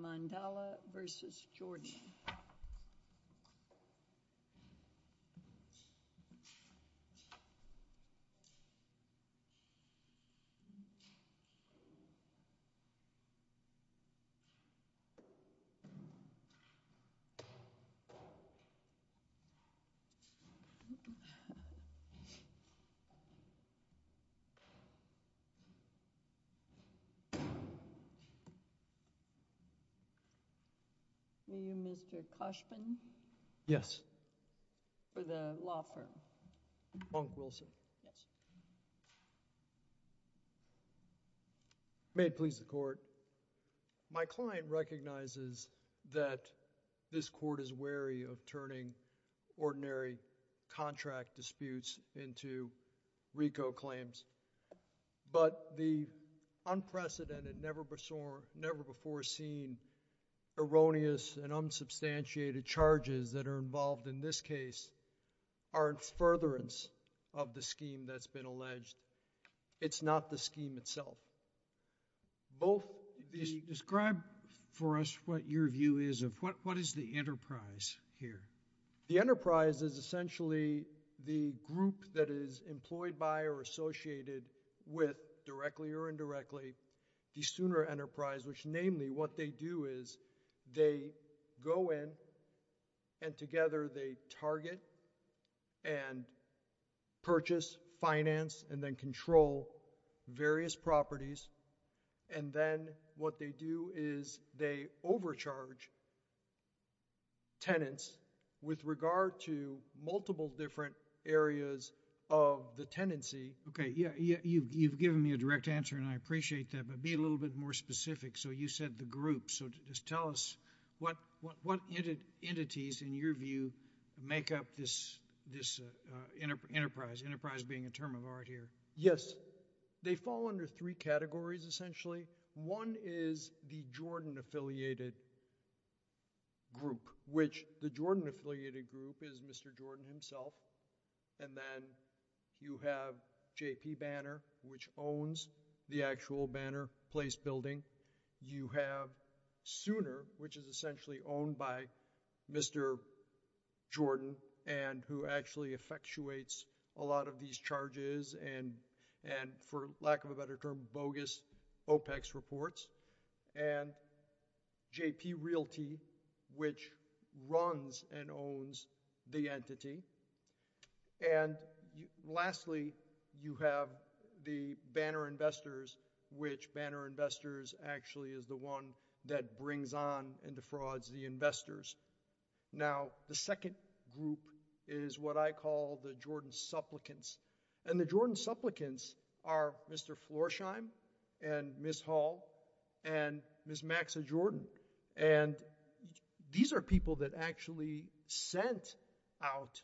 Mandala v. Jordan May it please the court, my client recognizes that this court is wary of turning ordinary contract disputes into RICO claims. But the unprecedented, never before seen, erroneous and unsubstantiated charges that are involved in this case are in furtherance of the scheme that's been alleged. It's not the scheme itself. Both Describe for us what your view is of, what is the enterprise here? The enterprise is essentially the group that is employed by or associated with, directly or indirectly, the sooner enterprise, which namely what they do is they go in and together they target and purchase, finance, and then control various properties. And then what they do is they overcharge tenants with regard to multiple different areas of the tenancy. Okay. Yeah. Yeah. You've given me a direct answer and I appreciate that. But be a little bit more specific. So you said the group. So just tell us what, what, what entities in your view make up this, this enterprise, enterprise being a term of art here? Yes. So they fall under three categories essentially. One is the Jordan-affiliated group, which the Jordan-affiliated group is Mr. Jordan himself. And then you have JP Banner, which owns the actual Banner Place Building. You have Sooner, which is essentially owned by Mr. Jordan and who actually effectuates a lot of these charges and, and for lack of a better term, bogus OPEX reports. And JP Realty, which runs and owns the entity. And lastly, you have the Banner Investors, which Banner Investors actually is the one that brings on and defrauds the investors. Now the second group is what I call the Jordan Supplicants. And the Jordan Supplicants are Mr. Florsheim and Ms. Hall and Ms. Maxa Jordan. And these are people that actually sent out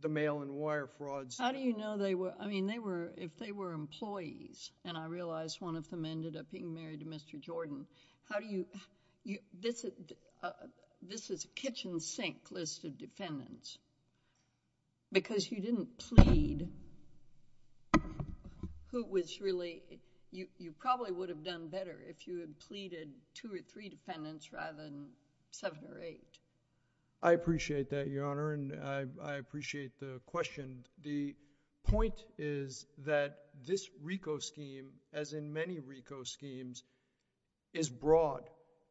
the mail and wire frauds. How do you know they were, I mean, they were, if they were employees and I realized one of them ended up being married to Mr. Jordan, how do you, this is a kitchen sink list of defendants because you didn't plead who was really, you probably would have done better if you had pleaded two or three defendants rather than seven or eight. I appreciate that, Your Honor, and I appreciate the question. And the point is that this RICO scheme, as in many RICO schemes, is broad.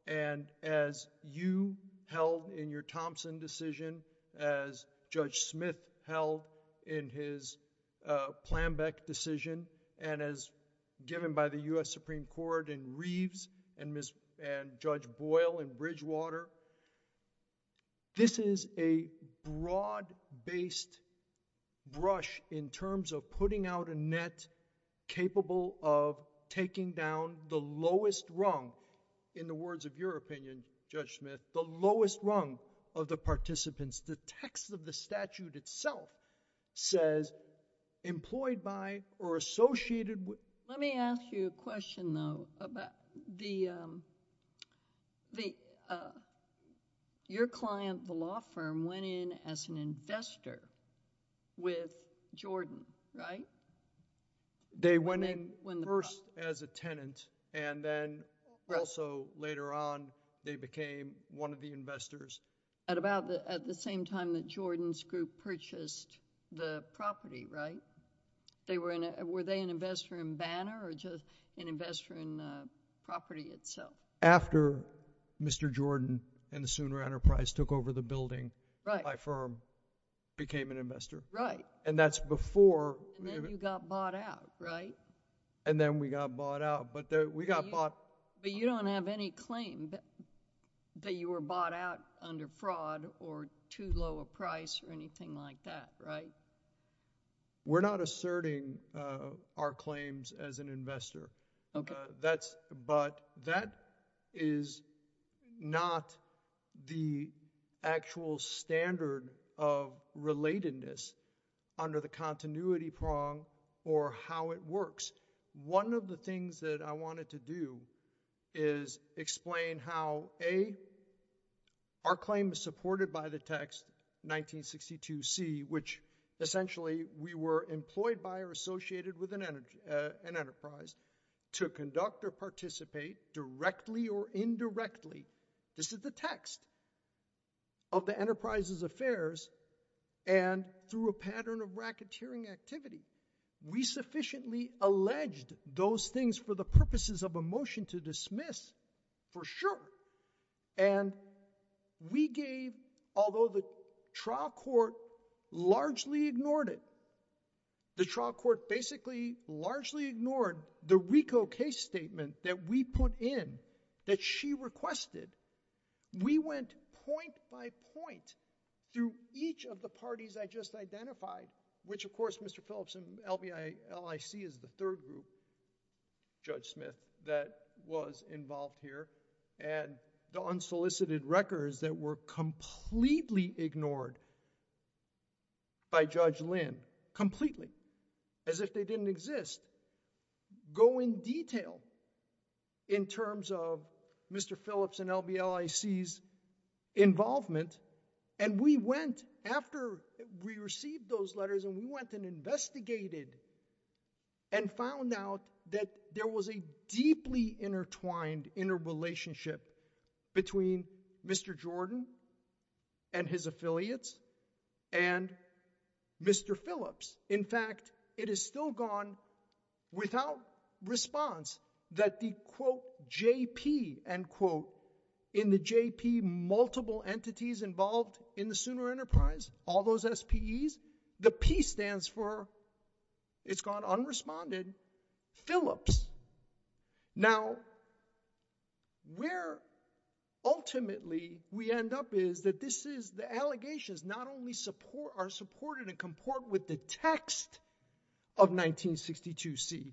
And as you held in your Thompson decision, as Judge Smith held in his Plambeck decision, and as given by the U.S. Supreme Court in Reeves and Ms., and Judge Boyle in Bridgewater, this is a broad-based brush in terms of putting out a net capable of taking down the lowest rung, in the words of your opinion, Judge Smith, the lowest rung of the participants. The text of the statute itself says, employed by or associated with... Your client, the law firm, went in as an investor with Jordan, right? They went in first as a tenant and then also later on, they became one of the investors. At about, at the same time that Jordan's group purchased the property, right? They were in a, were they an investor in Banner or just an investor in the property itself? After Mr. Jordan and the Sooner Enterprise took over the building, my firm became an investor. Right. And that's before... And then you got bought out, right? And then we got bought out, but we got bought... But you don't have any claim that you were bought out under fraud or too low a price or anything like that, right? We're not asserting our claims as an investor. Okay. But that is not the actual standard of relatedness under the continuity prong or how it works. One of the things that I wanted to do is explain how, A, our claim is supported by the text 1962C, which essentially we were employed by or associated with an enterprise to conduct or participate directly or indirectly. This is the text of the enterprise's affairs and through a pattern of racketeering activity, we sufficiently alleged those things for the purposes of a motion to dismiss for sure. And we gave, although the trial court largely ignored it, the trial court basically largely ignored the RICO case statement that we put in that she requested. We went point by point through each of the parties I just identified, which of course, Mr. Phillips and LIC is the third group, Judge Smith, that was involved here. And the unsolicited records that were completely ignored by Judge Lynn, completely, as if they didn't exist, go in detail in terms of Mr. Phillips and LBLIC's involvement. And we went after we received those letters and we went and investigated and found out that there was a deeply intertwined interrelationship between Mr. Jordan and his affiliates and Mr. Phillips. In fact, it is still gone without response that the, quote, JP, end quote, in the JP, multiple entities involved in the Sooner Enterprise, all those SPEs, the P stands for it's gone unresponded, Phillips. Now, where ultimately we end up is that this is the allegations not only are supported and comport with the text of 1962C,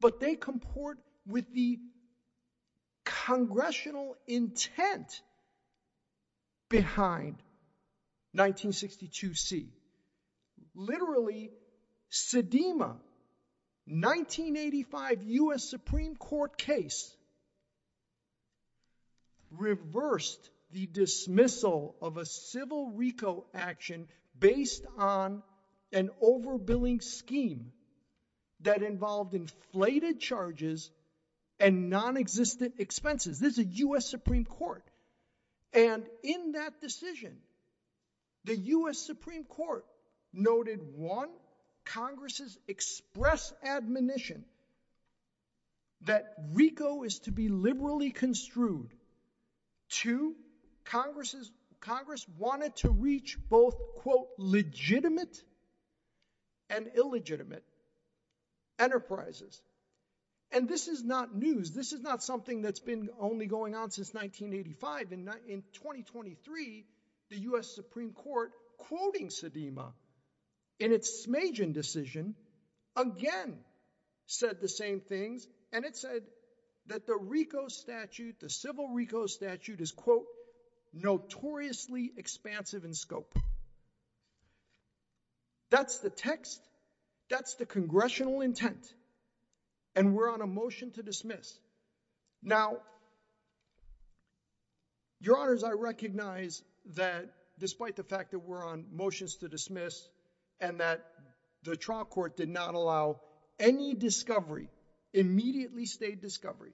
but they comport with the congressional intent behind 1962C. Literally, Sedema, 1985 US Supreme Court case, reversed the dismissal of a civil RICO action based on an overbilling scheme that involved inflated charges and non-existent expenses. This is a US Supreme Court. And in that decision, the US Supreme Court noted, one, Congress's express admonition that RICO is to be liberally construed. Two, Congress wanted to reach both, quote, legitimate and illegitimate enterprises. And this is not news. This is not something that's been only going on since 1985. And in 2023, the US Supreme Court, quoting Sedema in its Smajan decision, again, said the same things. And it said that the RICO statute, the civil RICO statute is, quote, notoriously expansive in scope. That's the text. That's the congressional intent. And we're on a motion to dismiss. Now, your honors, I recognize that despite the fact that we're on motions to dismiss and that the trial court did not allow any discovery, immediately stayed discovery,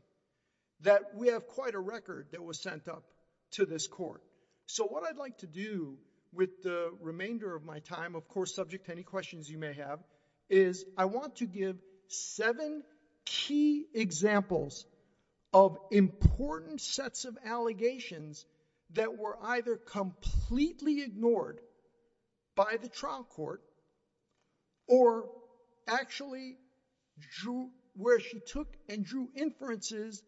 that we have quite a record that was sent up to this court. So what I'd like to do with the remainder of my time, of course, subject to any questions you may have, is I want to give seven key examples of important sets of allegations that were either completely ignored by the trial court or actually drew where she took and drew inferences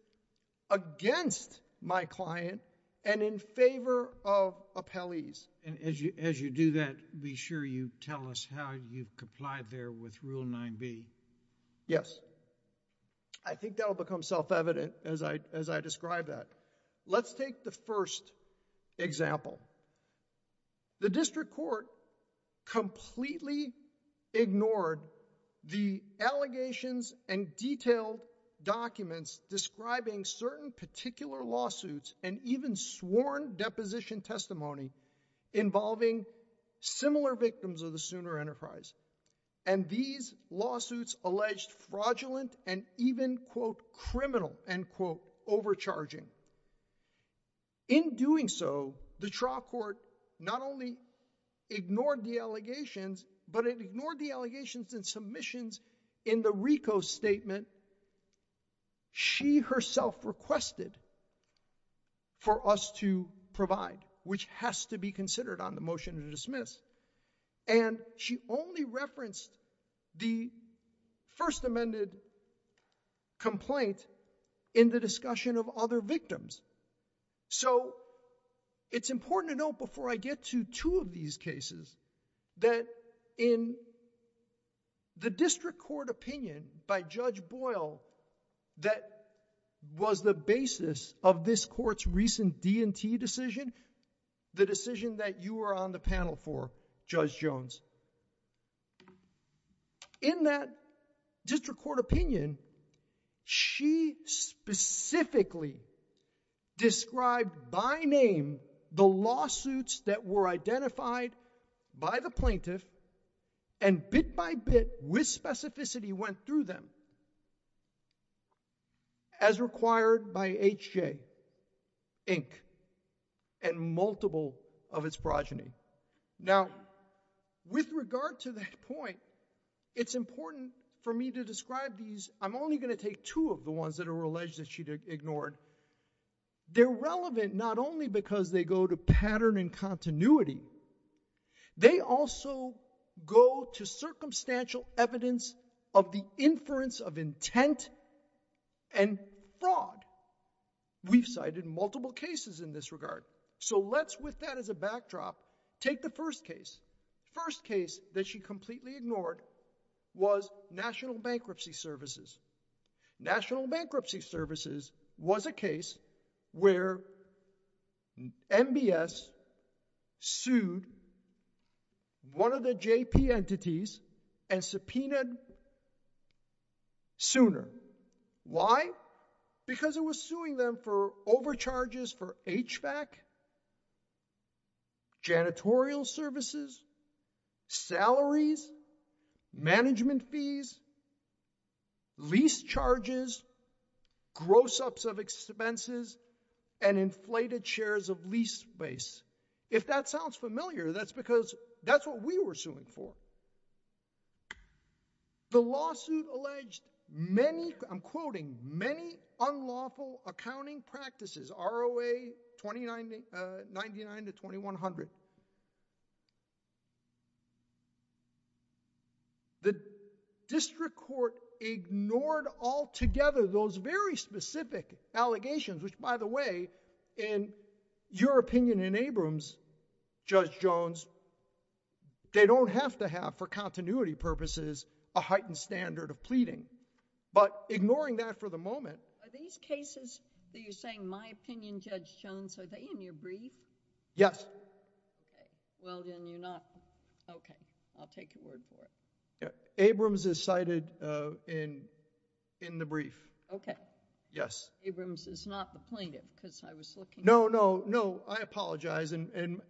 against my client and in favor of appellees. And as you do that, be sure you tell us how you complied there with Rule 9b. Yes. I think that will become self-evident as I describe that. Let's take the first example. The district court completely ignored the allegations and detailed documents describing certain particular lawsuits and even sworn deposition testimony involving similar victims of the Sooner Enterprise. And these lawsuits alleged fraudulent and even, quote, criminal, end quote, overcharging. In doing so, the trial court not only ignored the allegations, but it ignored the allegations and submissions in the RICO statement she herself requested for us to provide, which has to be considered on the motion to dismiss. And she only referenced the First Amendment complaint in the discussion of other victims. So it's important to note before I get to two of these cases that in the district court opinion by Judge Boyle that was the basis of this court's recent D&T decision, the decision that you were on the panel for, Judge Jones. In that district court opinion, she specifically described by name the lawsuits that were identified by the plaintiff and bit by bit, with specificity, went through them as required by H.J. Inc. and multiple of its progeny. Now, with regard to that point, it's important for me to describe these. I'm only going to take two of the ones that are alleged that she ignored. They're relevant not only because they go to pattern and continuity. They also go to circumstantial evidence of the inference of intent and fraud. We've cited multiple cases in this regard. So let's, with that as a backdrop, take the first case. First case that she completely ignored was National Bankruptcy Services. National Bankruptcy Services was a case where MBS sued one of the JP entities and subpoenaed them sooner. Why? Because it was suing them for overcharges for HVAC, janitorial services, salaries, management fees, lease charges, gross ups of expenses, and inflated shares of lease base. If that sounds familiar, that's because that's what we were suing for. The lawsuit alleged many, I'm quoting, many unlawful accounting practices, ROA 2999 to 2100. The district court ignored altogether those very specific allegations, which by the way, in your opinion in Abrams, Judge Jones, they don't have to have for continuity purposes a heightened standard of pleading. But ignoring that for the moment. Are these cases that you're saying, my opinion, Judge Jones, are they in your brief? Yes. Okay. Well, then you're not, okay. I'll take your word for it. Abrams is cited in the brief. Okay. Yes. Abrams is not the plaintiff because I was looking. No, no, no. I apologize. And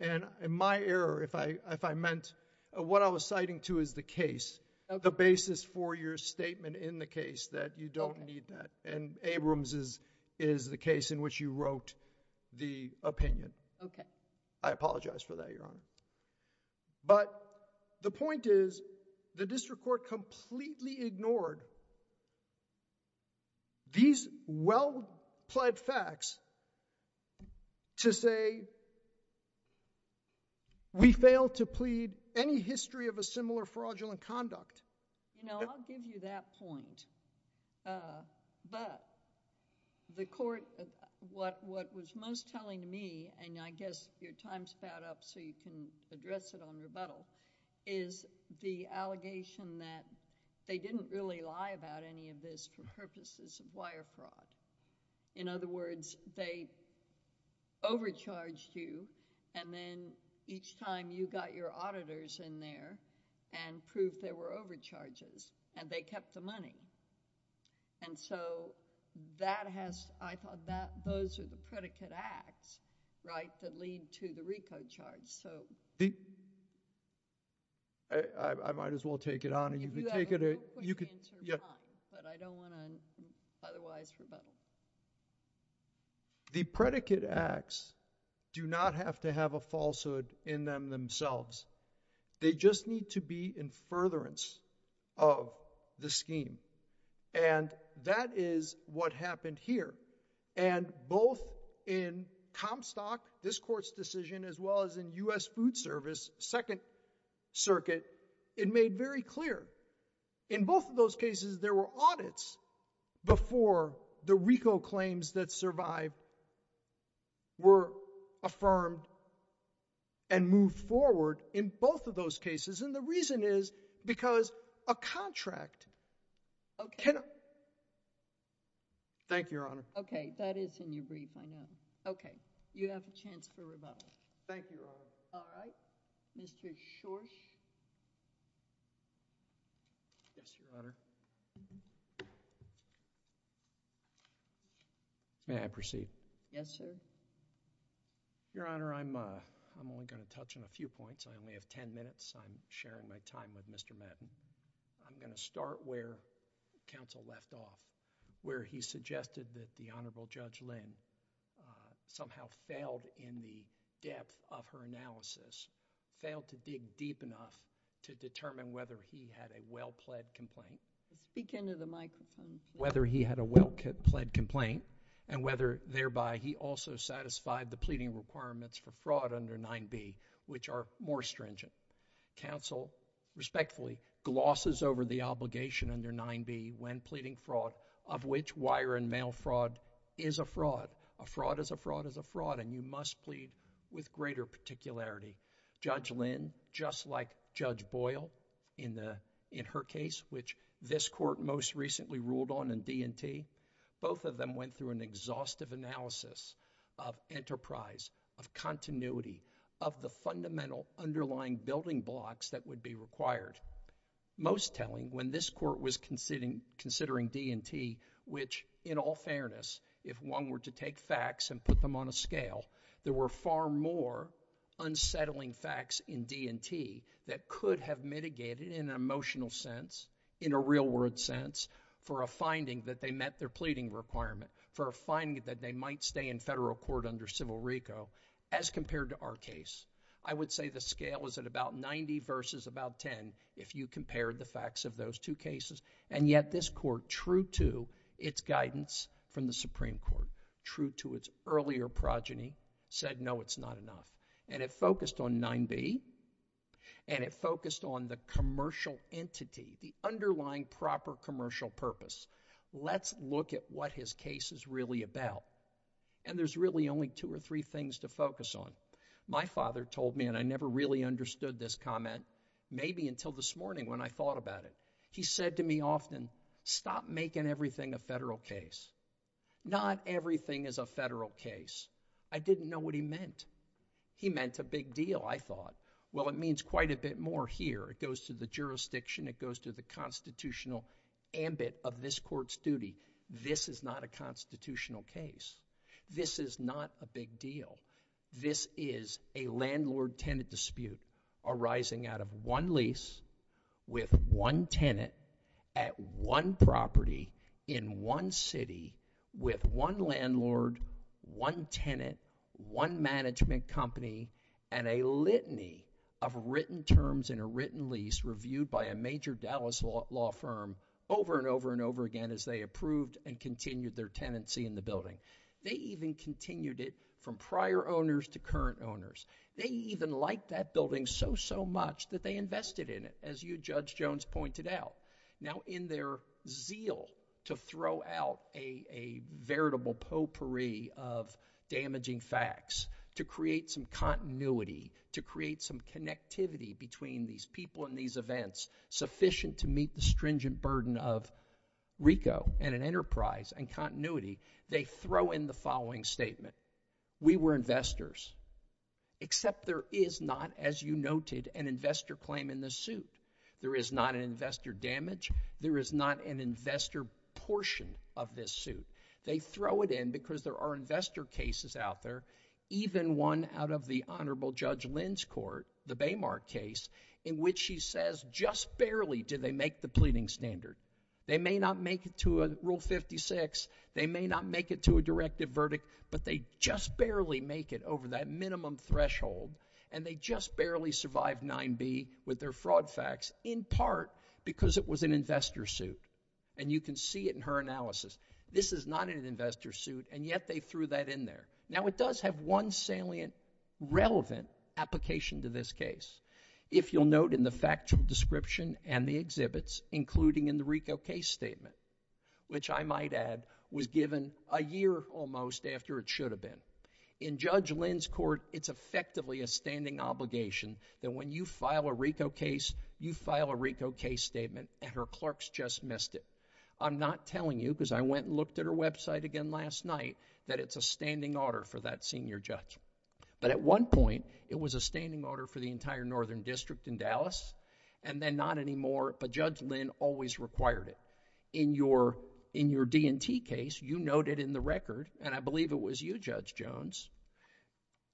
my error, if I meant, what I was citing to is the case. The basis for your statement in the case that you don't need that. And Abrams is the case in which you wrote the opinion. Okay. I apologize for that, Your Honor. But the point is the district court completely ignored these well-pled facts to say that we failed to plead any history of a similar fraudulent conduct. You know, I'll give you that point. But the court, what was most telling to me, and I guess your time's about up so you can address it on rebuttal, is the allegation that they didn't really lie about any of this for purposes of wire fraud. In other words, they overcharged you and then each time you got your auditors in there and proved there were overcharges and they kept the money. And so that has, I thought that those are the predicate acts, right, that lead to the RICO charge. I might as well take it on and you can take it. You can. But I don't want to otherwise rebuttal. The predicate acts do not have to have a falsehood in them themselves. They just need to be in furtherance of the scheme. And that is what happened here. And both in Comstock, this court's decision, as well as in U.S. Food Service, Second Circuit, it made very clear. In both of those cases, there were audits before the RICO claims that survived were affirmed and moved forward in both of those cases. And the reason is because a contract cannot... Thank you, Your Honor. Okay. That is in your brief, I know. Okay. You have a chance for rebuttal. Thank you, Your Honor. All right. Mr. Schorsch? Yes, Your Honor. May I proceed? Yes, sir. Your Honor, I'm only going to touch on a few points. I only have 10 minutes. I'm sharing my time with Mr. Madden. I'm going to start where counsel left off, where he suggested that the Honorable Judge Lynn somehow failed in the depth of her analysis, failed to dig deep enough to determine whether he had a well-pled complaint. Whether he had a well-pled complaint, and whether thereby he also satisfied the pleading requirements for fraud under 9b, which are more stringent. Counsel respectfully glosses over the obligation under 9b when pleading fraud, of which wire and mail fraud is a fraud. A fraud is a fraud is a fraud, and you must plead with greater particularity. Judge Lynn, just like Judge Boyle in her case, which this court most recently ruled on in D&T, both of them went through an exhaustive analysis of enterprise, of continuity, of the fundamental underlying building blocks that would be required. Most telling, when this court was considering D&T, which in all fairness, if one were to take facts and put them on a scale, there were far more unsettling facts in D&T that could have mitigated in an emotional sense, in a real-world sense, for a finding that they met their pleading requirement, for a finding that they might stay in federal court under Civil RICO, as compared to our case. I would say the scale was at about 90 versus about 10, if you compared the facts of those two cases, and yet this court, true to its guidance from the Supreme Court, true to its earlier progeny, said, no, it's not enough. And it focused on 9b, and it focused on the commercial entity, the underlying proper commercial purpose. Let's look at what his case is really about. And there's really only two or three things to focus on. My father told me, and I never really understood this comment, maybe until this morning when I thought about it. He said to me often, stop making everything a federal case. Not everything is a federal case. I didn't know what he meant. He meant a big deal, I thought. Well, it means quite a bit more here. It goes to the jurisdiction. It goes to the constitutional ambit of this court's duty. This is not a constitutional case. This is not a big deal. This is a landlord-tenant dispute arising out of one lease with one tenant at one property in one city with one landlord, one tenant, one management company, and a litany of written terms in a written lease reviewed by a major Dallas law firm over and over and over again as they approved and continued their tenancy in the building. They even continued it from prior owners to current owners. They even liked that building so, so much that they invested in it, as you, Judge Jones, pointed out. Now, in their zeal to throw out a veritable potpourri of damaging facts, to create some continuity, to create some connectivity between these people and these events sufficient to meet the stringent burden of RICO and an enterprise and continuity, they throw in the following statement. We were investors. Except there is not, as you noted, an investor claim in this suit. There is not an investor damage. There is not an investor portion of this suit. They throw it in because there are investor cases out there, even one out of the Honorable Judge Lin's court, the Baymark case, in which she says just barely did they make the pleading standard. They may not make it to Rule 56. They may not make it to a directive verdict, but they just barely make it over that minimum threshold, and they just barely survived 9B with their fraud facts, in part because it was an investor suit. And you can see it in her analysis. This is not an investor suit, and yet they threw that in there. Now, it does have one salient, relevant application to this case. If you'll note in the factual description and the exhibits, including in the RICO case statement, which I might add was given a year almost after it should have been, in Judge Lin's court, it's effectively a standing obligation that when you file a RICO case, you file a RICO case statement, and her clerks just missed it. I'm not telling you, because I went and looked at her website again last night, that it's a standing order for that senior judge. But at one point, it was a standing order for the entire Northern District in Dallas, and then not anymore, but Judge Lin always required it. In your D&T case, you noted in the record, and I believe it was you, Judge Jones,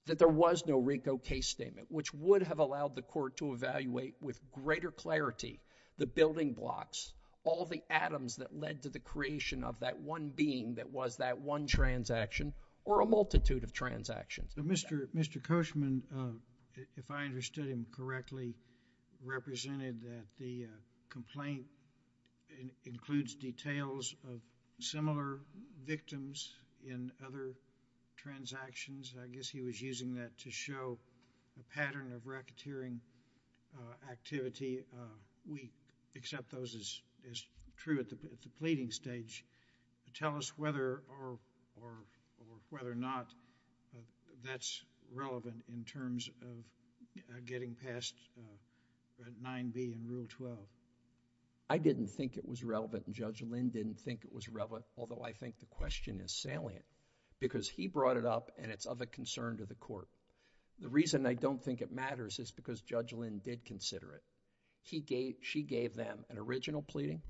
that there was no RICO case statement, which would have allowed the court to evaluate with greater clarity the building blocks, all the atoms that led to the creation of that one being that was that one transaction, or a multitude of transactions. Mr. Koshman, if I understood him correctly, represented that the complaint includes details of similar victims in other transactions. I guess he was using that to show a pattern of racketeering activity. We accept those as true at the pleading stage. Tell us whether or not that's relevant in terms of getting past 9B and Rule 12. I didn't think it was relevant, and Judge Lin didn't think it was relevant, although I think the question is salient, because he brought it up, and it's of a concern to the The reason I don't think it matters is because Judge Lin did consider it. She gave them an original pleading.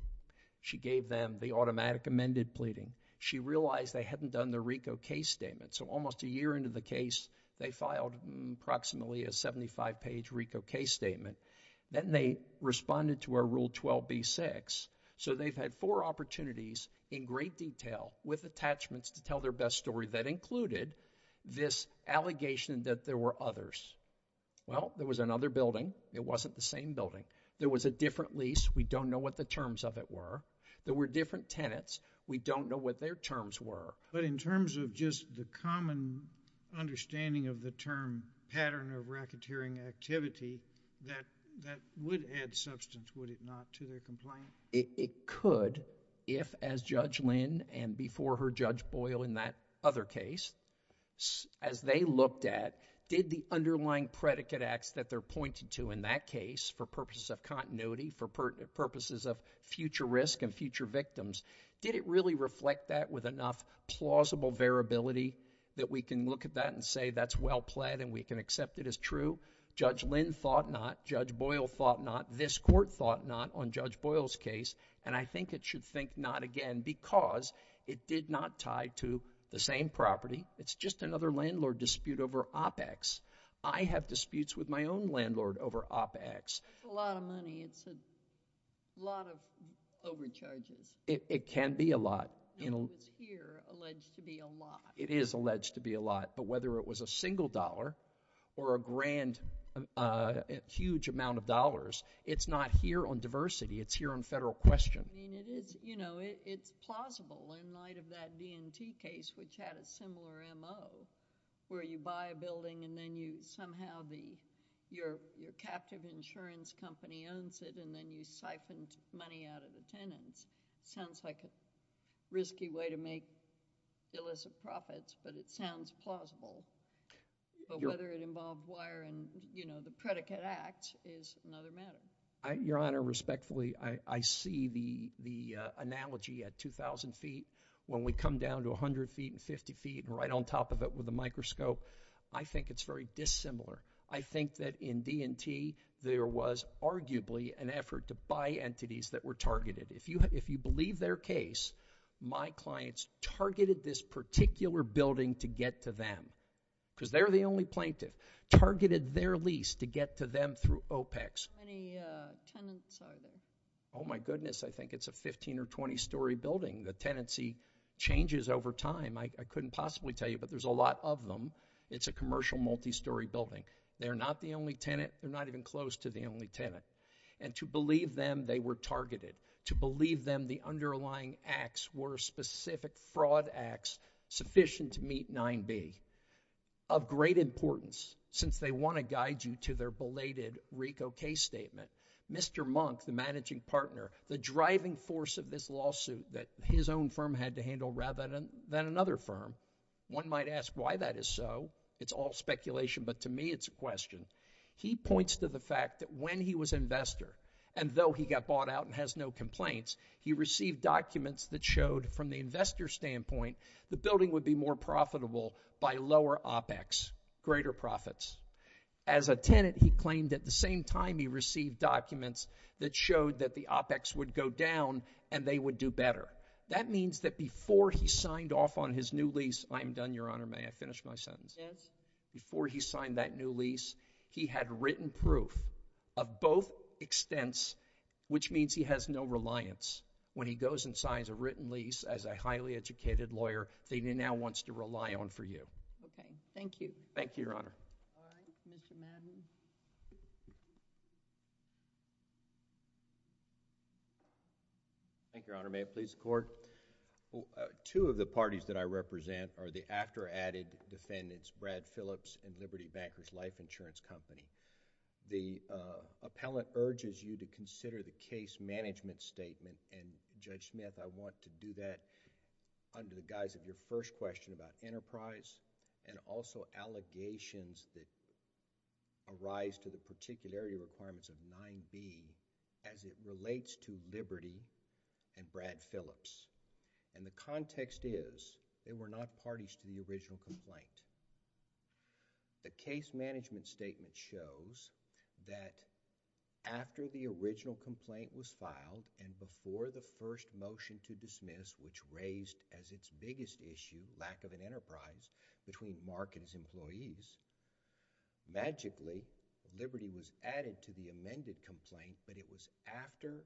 She gave them the automatic amended pleading. She realized they hadn't done the RICO case statement, so almost a year into the case, they filed approximately a 75-page RICO case statement. Then they responded to our Rule 12b-6, so they've had four opportunities in great detail with attachments to tell their best story that included this allegation that there were others. Well, there was another building. It wasn't the same building. There was a different lease. We don't know what the terms of it were. There were different tenants. We don't know what their terms were. But in terms of just the common understanding of the term pattern of racketeering activity, that would add substance, would it not, to their complaint? It could if, as Judge Lin and before her Judge Boyle in that other case, as they looked at, did the underlying predicate acts that they're pointing to in that case for purposes of continuity, for purposes of future risk and future victims, did it really reflect that with enough plausible variability that we can look at that and say that's well-plaid and we can accept it as true? Judge Lin thought not. Judge Boyle thought not. This Court thought not on Judge Boyle's case, and I think it should think not again because it did not tie to the same property. It's just another landlord dispute over OPEX. I have disputes with my own landlord over OPEX. That's a lot of money. It's a lot of overcharges. It can be a lot. It's here alleged to be a lot. It is alleged to be a lot. But whether it was a single dollar or a grand huge amount of dollars, it's not here on diversity. It's here on federal question. You know, it's plausible in light of that D&T case which had a similar MO where you buy a building and then somehow your captive insurance company owns it and then you siphon money out of the tenants. It sounds like a risky way to make illicit profits, but it sounds plausible. But whether it involved wire and, you know, the predicate act is another matter. Your Honor, respectfully, I see the analogy at 2,000 feet. When we come down to 100 feet and 50 feet and right on top of it with a microscope, I think it's very dissimilar. I think that in D&T, there was arguably an effort to buy entities that were targeted. If you believe their case, my clients targeted this particular building to get to them because they're the only plaintiff, targeted their lease to get to them through OPEX. How many tenants are there? Oh, my goodness. I think it's a 15 or 20-story building. The tenancy changes over time. I couldn't possibly tell you, but there's a lot of them. It's a commercial multi-story building. They're not the only tenant. They're not even close to the only tenant. And to believe them, they were targeted. To believe them, the underlying acts were specific fraud acts sufficient to meet 9b. Of great importance, since they want to guide you to their belated RICO case statement, Mr. Monk, the managing partner, the driving force of this lawsuit that his own firm had to handle rather than another firm. One might ask why that is so. It's all speculation, but to me, it's a question. He points to the fact that when he was investor, and though he got bought out and has no complaints, he received documents that showed from the investor standpoint, the building would be more profitable by lower OPEX, greater profits. As a tenant, he claimed at the same time he received documents that showed that the OPEX would go down and they would do better. That means that before he signed off on his new lease, I'm done, Your Honor. May I finish my sentence? Yes. Before he signed that new lease, he had written proof of both extents, which means he has no reliance when he goes and signs a written lease as a highly educated lawyer that he now wants to rely on for you. Okay. Thank you. Thank you, Your Honor. All right. Mr. Madden. Thank you, Your Honor. May it please the Court? Two of the parties that I represent are the after added defendants, Brad Phillips and Liberty Bankers Life Insurance Company. The appellant urges you to consider the case management statement, and Judge Smith, I want to do that under the guise of your first question about enterprise and also allegations that arise to the particularity requirements of 9B as it relates to Liberty and Brad Phillips. The context is, they were not parties to the original complaint. The case management statement shows that after the original complaint was filed and before the first motion to dismiss, which raised as its biggest issue, lack of an enterprise between Mark and his employees, magically, Liberty was added to the amended complaint, but it was after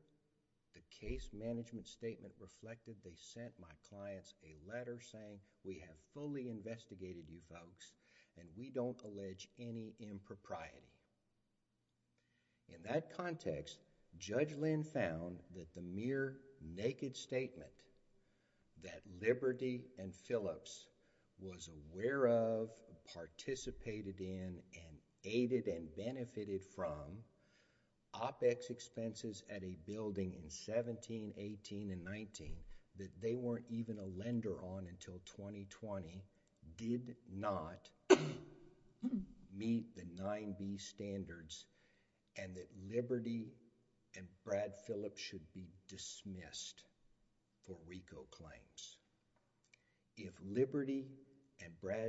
the case management statement reflected, they sent my clients a letter saying, we have fully investigated you folks and we don't allege any impropriety. In that context, Judge Lynn found that the mere naked statement that Liberty and Phillips was aware of, participated in, and aided and benefited from, OPEC's expenses at a building in 17, 18, and 19, that they weren't even a lender on until 2020, did not meet the 9B standards and that Liberty and Brad Phillips should be dismissed for RICO claims. If Liberty and Brad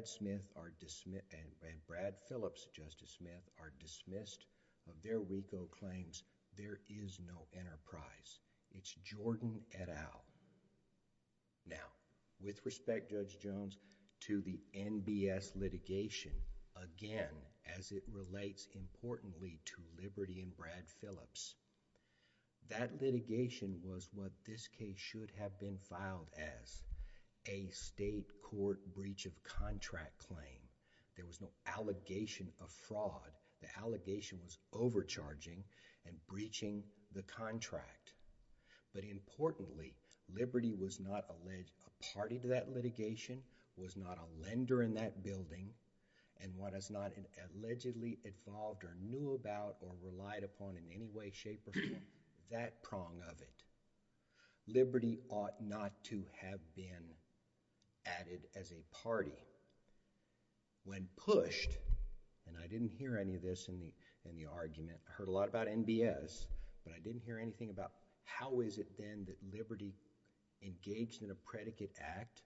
Phillips, Justice Smith, are dismissed of their RICO claims, there is no enterprise. It's Jordan et al. Now, with respect, Judge Jones, to the NBS litigation, again, as it relates importantly to Liberty and Brad Phillips, that litigation was what this case should have been filed as, a state court breach of contract claim. There was no allegation of fraud. The allegation was overcharging and breaching the contract. But importantly, Liberty was not a party to that litigation, was not a lender in that building, and was not allegedly involved or knew about or relied upon in any way, shape, or form, that prong of it. Liberty ought not to have been added as a party. When pushed, and I didn't hear any of this in the argument, I heard a lot about NBS, but I didn't hear anything about how is it then that Liberty engaged in a predicate act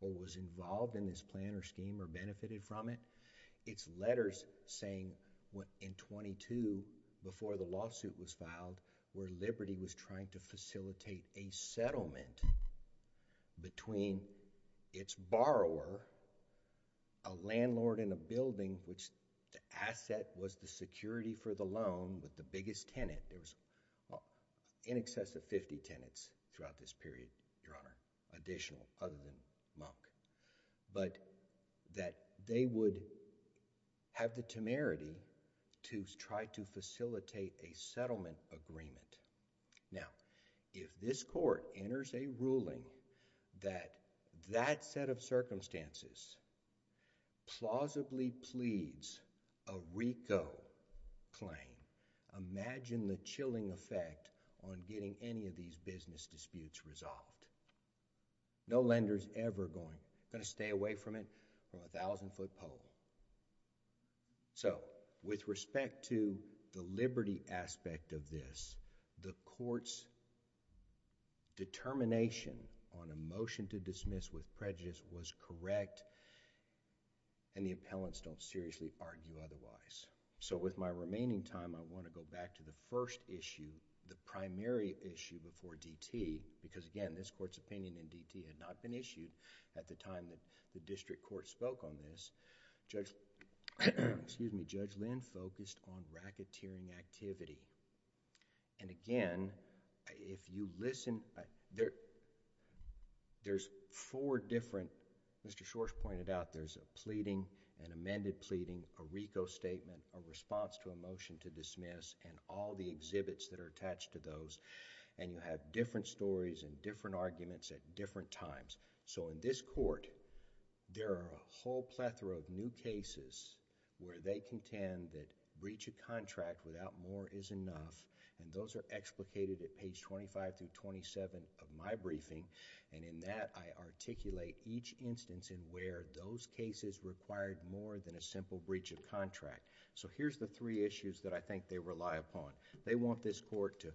or was involved in this plan or scheme or benefited from it. It's letters saying in 22, before the lawsuit was filed, where Liberty was trying to facilitate a settlement between its borrower, a landlord in a building, which the asset was the security for the loan with the biggest tenant. There was in excess of 50 tenants throughout this period, Your Honor, additional other than Monk, but that they would have the temerity to try to facilitate a settlement agreement. Now, if this court enters a ruling that that set of circumstances plausibly pleads a RICO claim, imagine the chilling effect on getting any of these business disputes resolved. No lender is ever going to stay away from it from a thousand-foot pole. With respect to the Liberty aspect of this, the court's determination on a motion to dismiss with prejudice was correct and the appellants don't seriously argue otherwise. With my remaining time, I want to go back to the first issue, the primary issue before DT, because again, this court's opinion in DT had not been at the time that the district court spoke on this, Judge Lynn focused on racketeering activity. Again, if you listen, there's four different... Mr. Shors pointed out there's a pleading, an amended pleading, a RICO statement, a response to a motion to dismiss and all the exhibits that are attached to those and you have different stories and different arguments at different times. In this court, there are a whole plethora of new cases where they contend that breach of contract without more is enough and those are explicated at page 25-27 of my briefing and in that I articulate each instance in where those cases required more than a simple breach of contract. Here's the three issues that I think they rely upon. They want this court to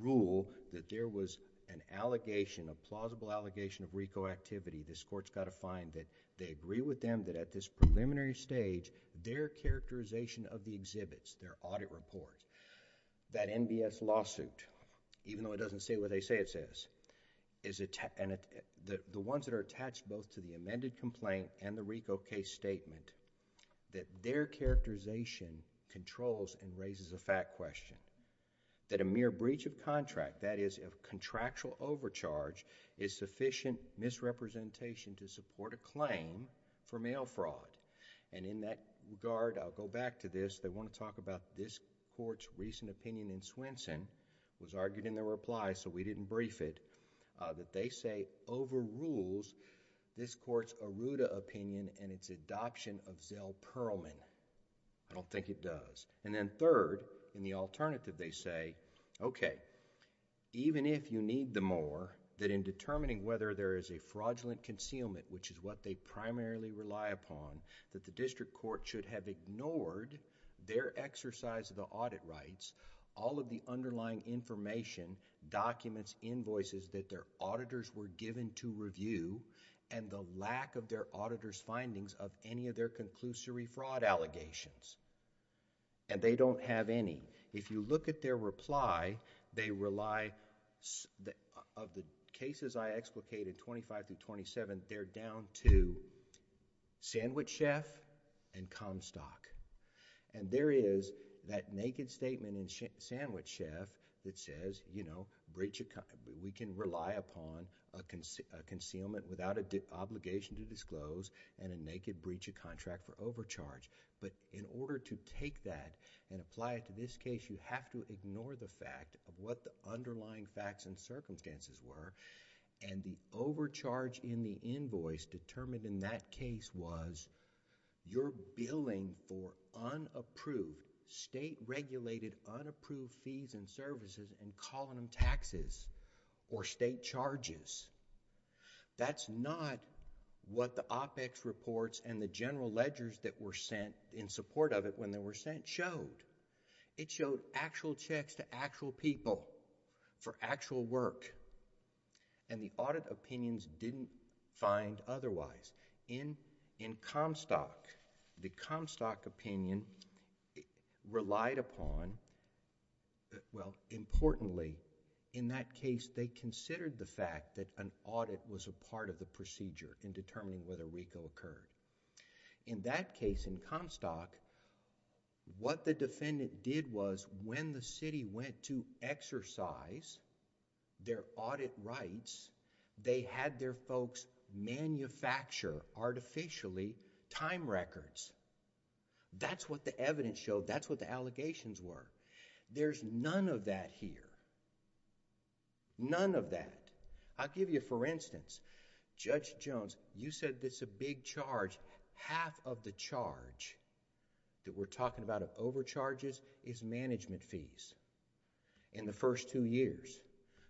rule that there was an allegation, a plausible allegation of RICO activity, this court's got to find that they agree with them that at this preliminary stage, their characterization of the exhibits, their audit report, that NBS lawsuit, even though it doesn't say what they say it says, the ones that are attached both to the amended complaint and the RICO case statement, that their characterization controls and raises a fact question. That a mere breach of contract, that is a contractual overcharge, is sufficient misrepresentation to support a claim for mail fraud and in that regard, I'll go back to this, they want to talk about this court's recent opinion in Swenson, was argued in their reply so we didn't brief it, that they say overrules this court's Aruda opinion and its adoption of Zell-Perelman. I don't think it does and then third, in the alternative they say, okay, even if you need them more, that in determining whether there is a fraudulent concealment, which is what they primarily rely upon, that the district court should have ignored their exercise of the audit rights, all of the underlying information, documents, invoices that their auditors were given to review and the lack of their auditor's findings of any of their conclusory fraud allegations and they don't have any. If you look at their reply, they rely... of the cases I explicated, twenty-five through twenty-seven, they're down to sandwich chef and Comstock and there is that naked statement in sandwich chef that says, you know, we can rely upon a concealment without an obligation to disclose and a naked for overcharge, but in order to take that and apply it to this case, you have to ignore the fact of what the underlying facts and circumstances were and the overcharge in the invoice determined in that case was, you're billing for unapproved state regulated unapproved fees and services and calling taxes or state charges. That's not what the OPEX reports and the general ledgers that were sent in support of it when they were sent showed. It showed actual checks to actual people for actual work and the audit opinions didn't find otherwise. In Comstock, the Comstock opinion relied upon, well importantly, in that case they considered the fact that an audit was a part of the procedure in determining whether RICO occurred. In that case in Comstock, what the defendant did was when the city went to exercise their audit rights, they had their folks manufacture artificially time records. That's what the evidence showed. That's what the allegations were. There's none of that here. None of that. I'll give you for instance, Judge Jones, you said this is a big charge. Half of the charge that we're talking about of overcharges is management fees in the first two years.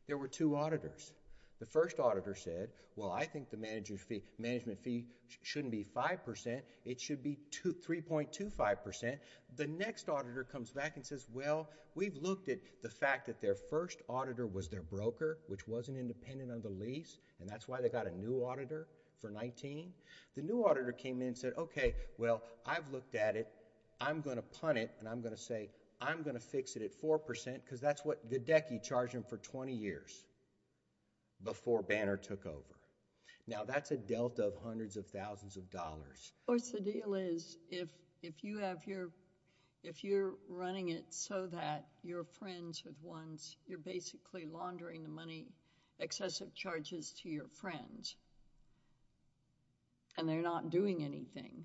There were two auditors. The first auditor said, well, I think the management fee shouldn't be 5%, it should be 3.25%. The next auditor comes back and says, well, we've looked at the fact that their first auditor was their broker, which wasn't independent of the lease, and that's why they got a new auditor for 19. The new auditor came in and said, okay, well, I've looked at it. I'm going to punt it and I'm going to say, I'm going to fix it at 4% because that's what the DECI charged him for 20 years before Banner took over. Now, that's a delta of hundreds of thousands of dollars. Of course, the deal is if you're running it so that you're friends with ones, you're basically laundering the money, excessive charges to your friends and they're not doing anything.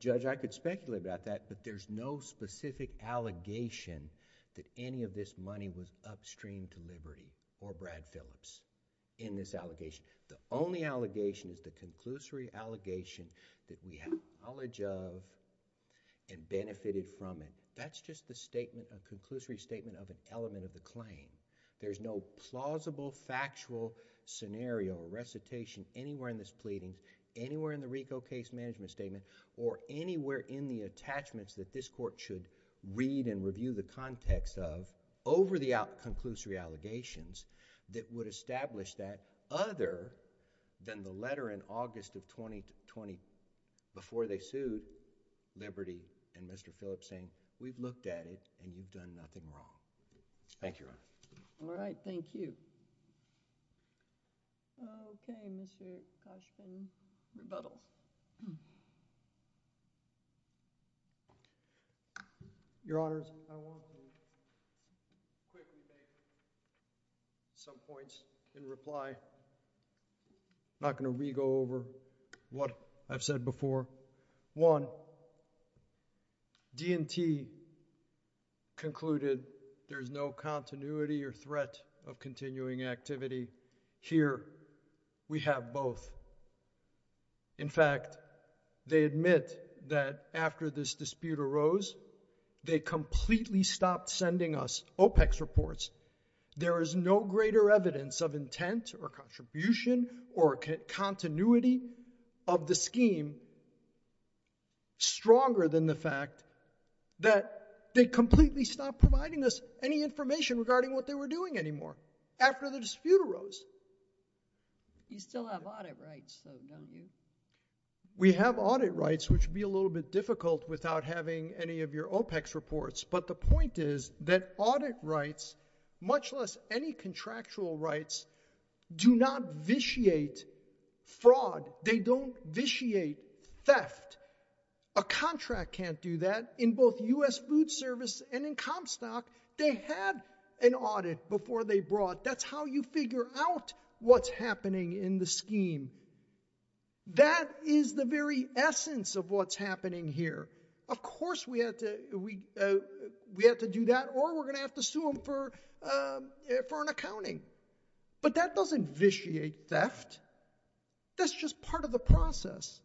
Judge, I could speculate about that, but there's no specific allegation that any of this money was upstream to Liberty or Brad Phillips in this allegation. The only allegation is the conclusory allegation that we have knowledge of and benefited from it. That's just the statement, a conclusory statement of an element of the claim. There's no plausible, factual scenario or recitation anywhere in this pleading, anywhere in the RICO case management statement or anywhere in the attachments that this court should read and review the context of over the out conclusory allegations that would establish that other than the letter in August of 2020 before they sued Liberty and Mr. Phillips saying, we've looked at it and you've done nothing wrong. Thank you, Your Honor. All right. Thank you. Okay, Mr. Cushman. Rebuttals. Your Honors, I want to quickly make some points. In reply, I'm not going to re-go over what I've said before. One, D&T concluded there's no continuity or threat of continuing activity. Here, we have both. In fact, they admit that after this dispute arose, they completely stopped sending us OPEX reports. There is no greater evidence of intent or contribution or continuity of the scheme, stronger than the fact that they completely stopped providing us any information regarding what they were doing anymore after the dispute arose. You still have audit rights though, don't you? We have audit rights, which would be a little bit difficult without having any of your OPEX reports, but the point is that audit rights, much less any contractual rights, do not vitiate fraud. They don't vitiate theft. A contract can't do that. In both U.S. Food Service and in Comstock, they had an audit before they brought. That's how you figure out what's happening in the scheme. That is the very essence of what's happening here. Of course, we have to do that, or we're going to have to sue them for an accounting, but that doesn't vitiate theft. That's just part of the process,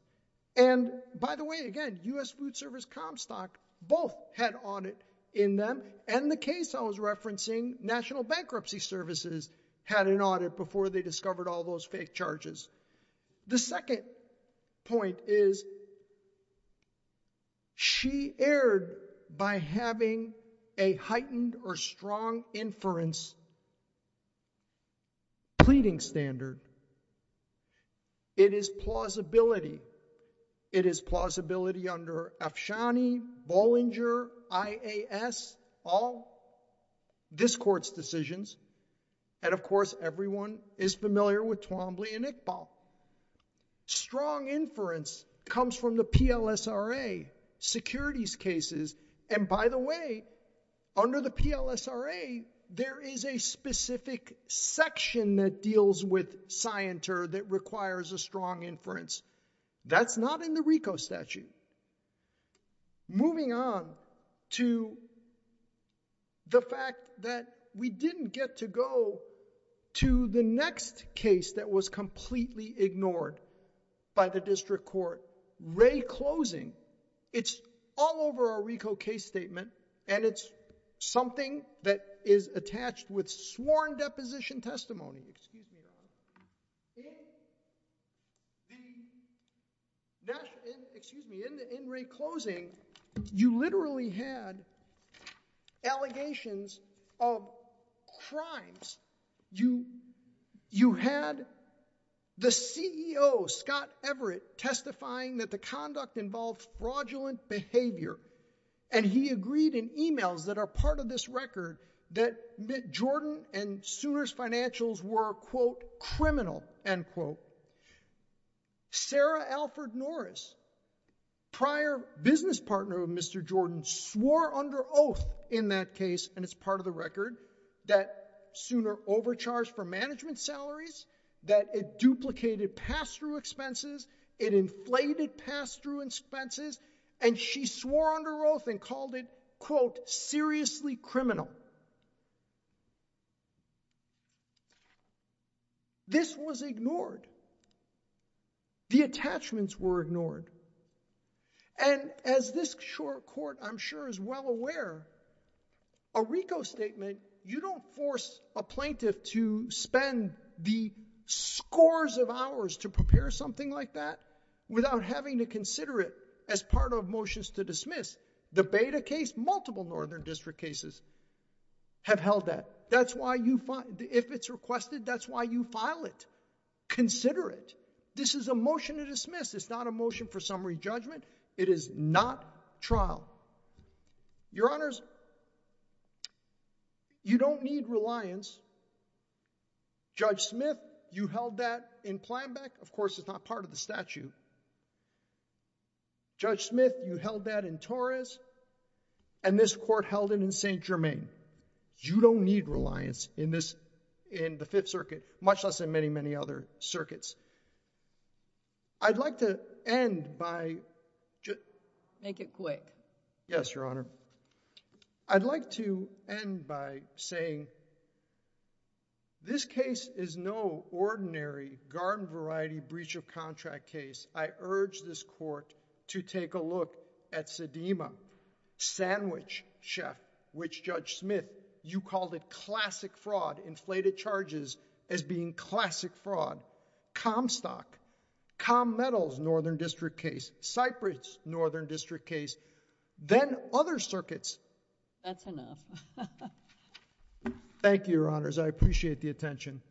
and by the way, again, U.S. Food Service, Comstock, both had audit in them, and the case I was referencing, National Bankruptcy Services, had an audit before they discovered all those fake charges. The second point is, she erred by having a heightened or strong inference pleading standard. It is plausibility. It is plausibility under Afshani, Bollinger, IAS, all this court's decisions, and of all, strong inference comes from the PLSRA securities cases, and by the way, under the PLSRA, there is a specific section that deals with scienter that requires a strong inference. That's not in the RICO statute. Moving on to the fact that we didn't get to go to the next case that was completely ignored by the district court, Ray Closing, it's all over our RICO case statement, and it's something that is attached with sworn deposition testimony. Excuse me, Your Honor. In the, excuse me, in Ray Closing, you literally had allegations of crimes. You had the CEO, Scott Everett, testifying that the conduct involved fraudulent behavior, and he agreed in emails that are part of this record that Jordan and Sooner's financials were, quote, criminal, end quote. Sarah Alford Norris, prior business partner of Mr. Jordan, swore under oath in that case, and it's part of the record, that Sooner overcharged for management salaries, that it duplicated pass-through expenses, it inflated pass-through expenses, and she swore under oath and called it, quote, seriously criminal. This was ignored. The attachments were ignored, and as this court, I'm sure, is well aware, a RICO statement, you don't force a plaintiff to spend the scores of hours to prepare something like that without having to consider it as part of motions to dismiss. The Beta case, multiple Northern District cases have held that. That's why you, if it's requested, that's why you file it. Consider it. This is a motion to dismiss. It's not a motion for summary judgment. It is not trial. Your Honors, you don't need reliance. Judge Smith, you held that in Planbeck. Of course, it's not part of the statute. Judge Smith, you held that in Torres, and this court held it in St. Germain. You don't need reliance in this, in the Fifth Circuit, much less in many, many other circuits. I'd like to end by... Make it quick. Yes, Your Honor. I'd like to end by saying, this case is no ordinary garden variety breach of contract case. I urge this court to take a look at Sedema, Sandwich Chef, which Judge Smith, you called it classic fraud, inflated charges as being classic fraud. Comstock, Comm Metal's Northern District case, Cypress, Northern District case, then other circuits. That's enough. Thank you, Your Honors. I appreciate the attention.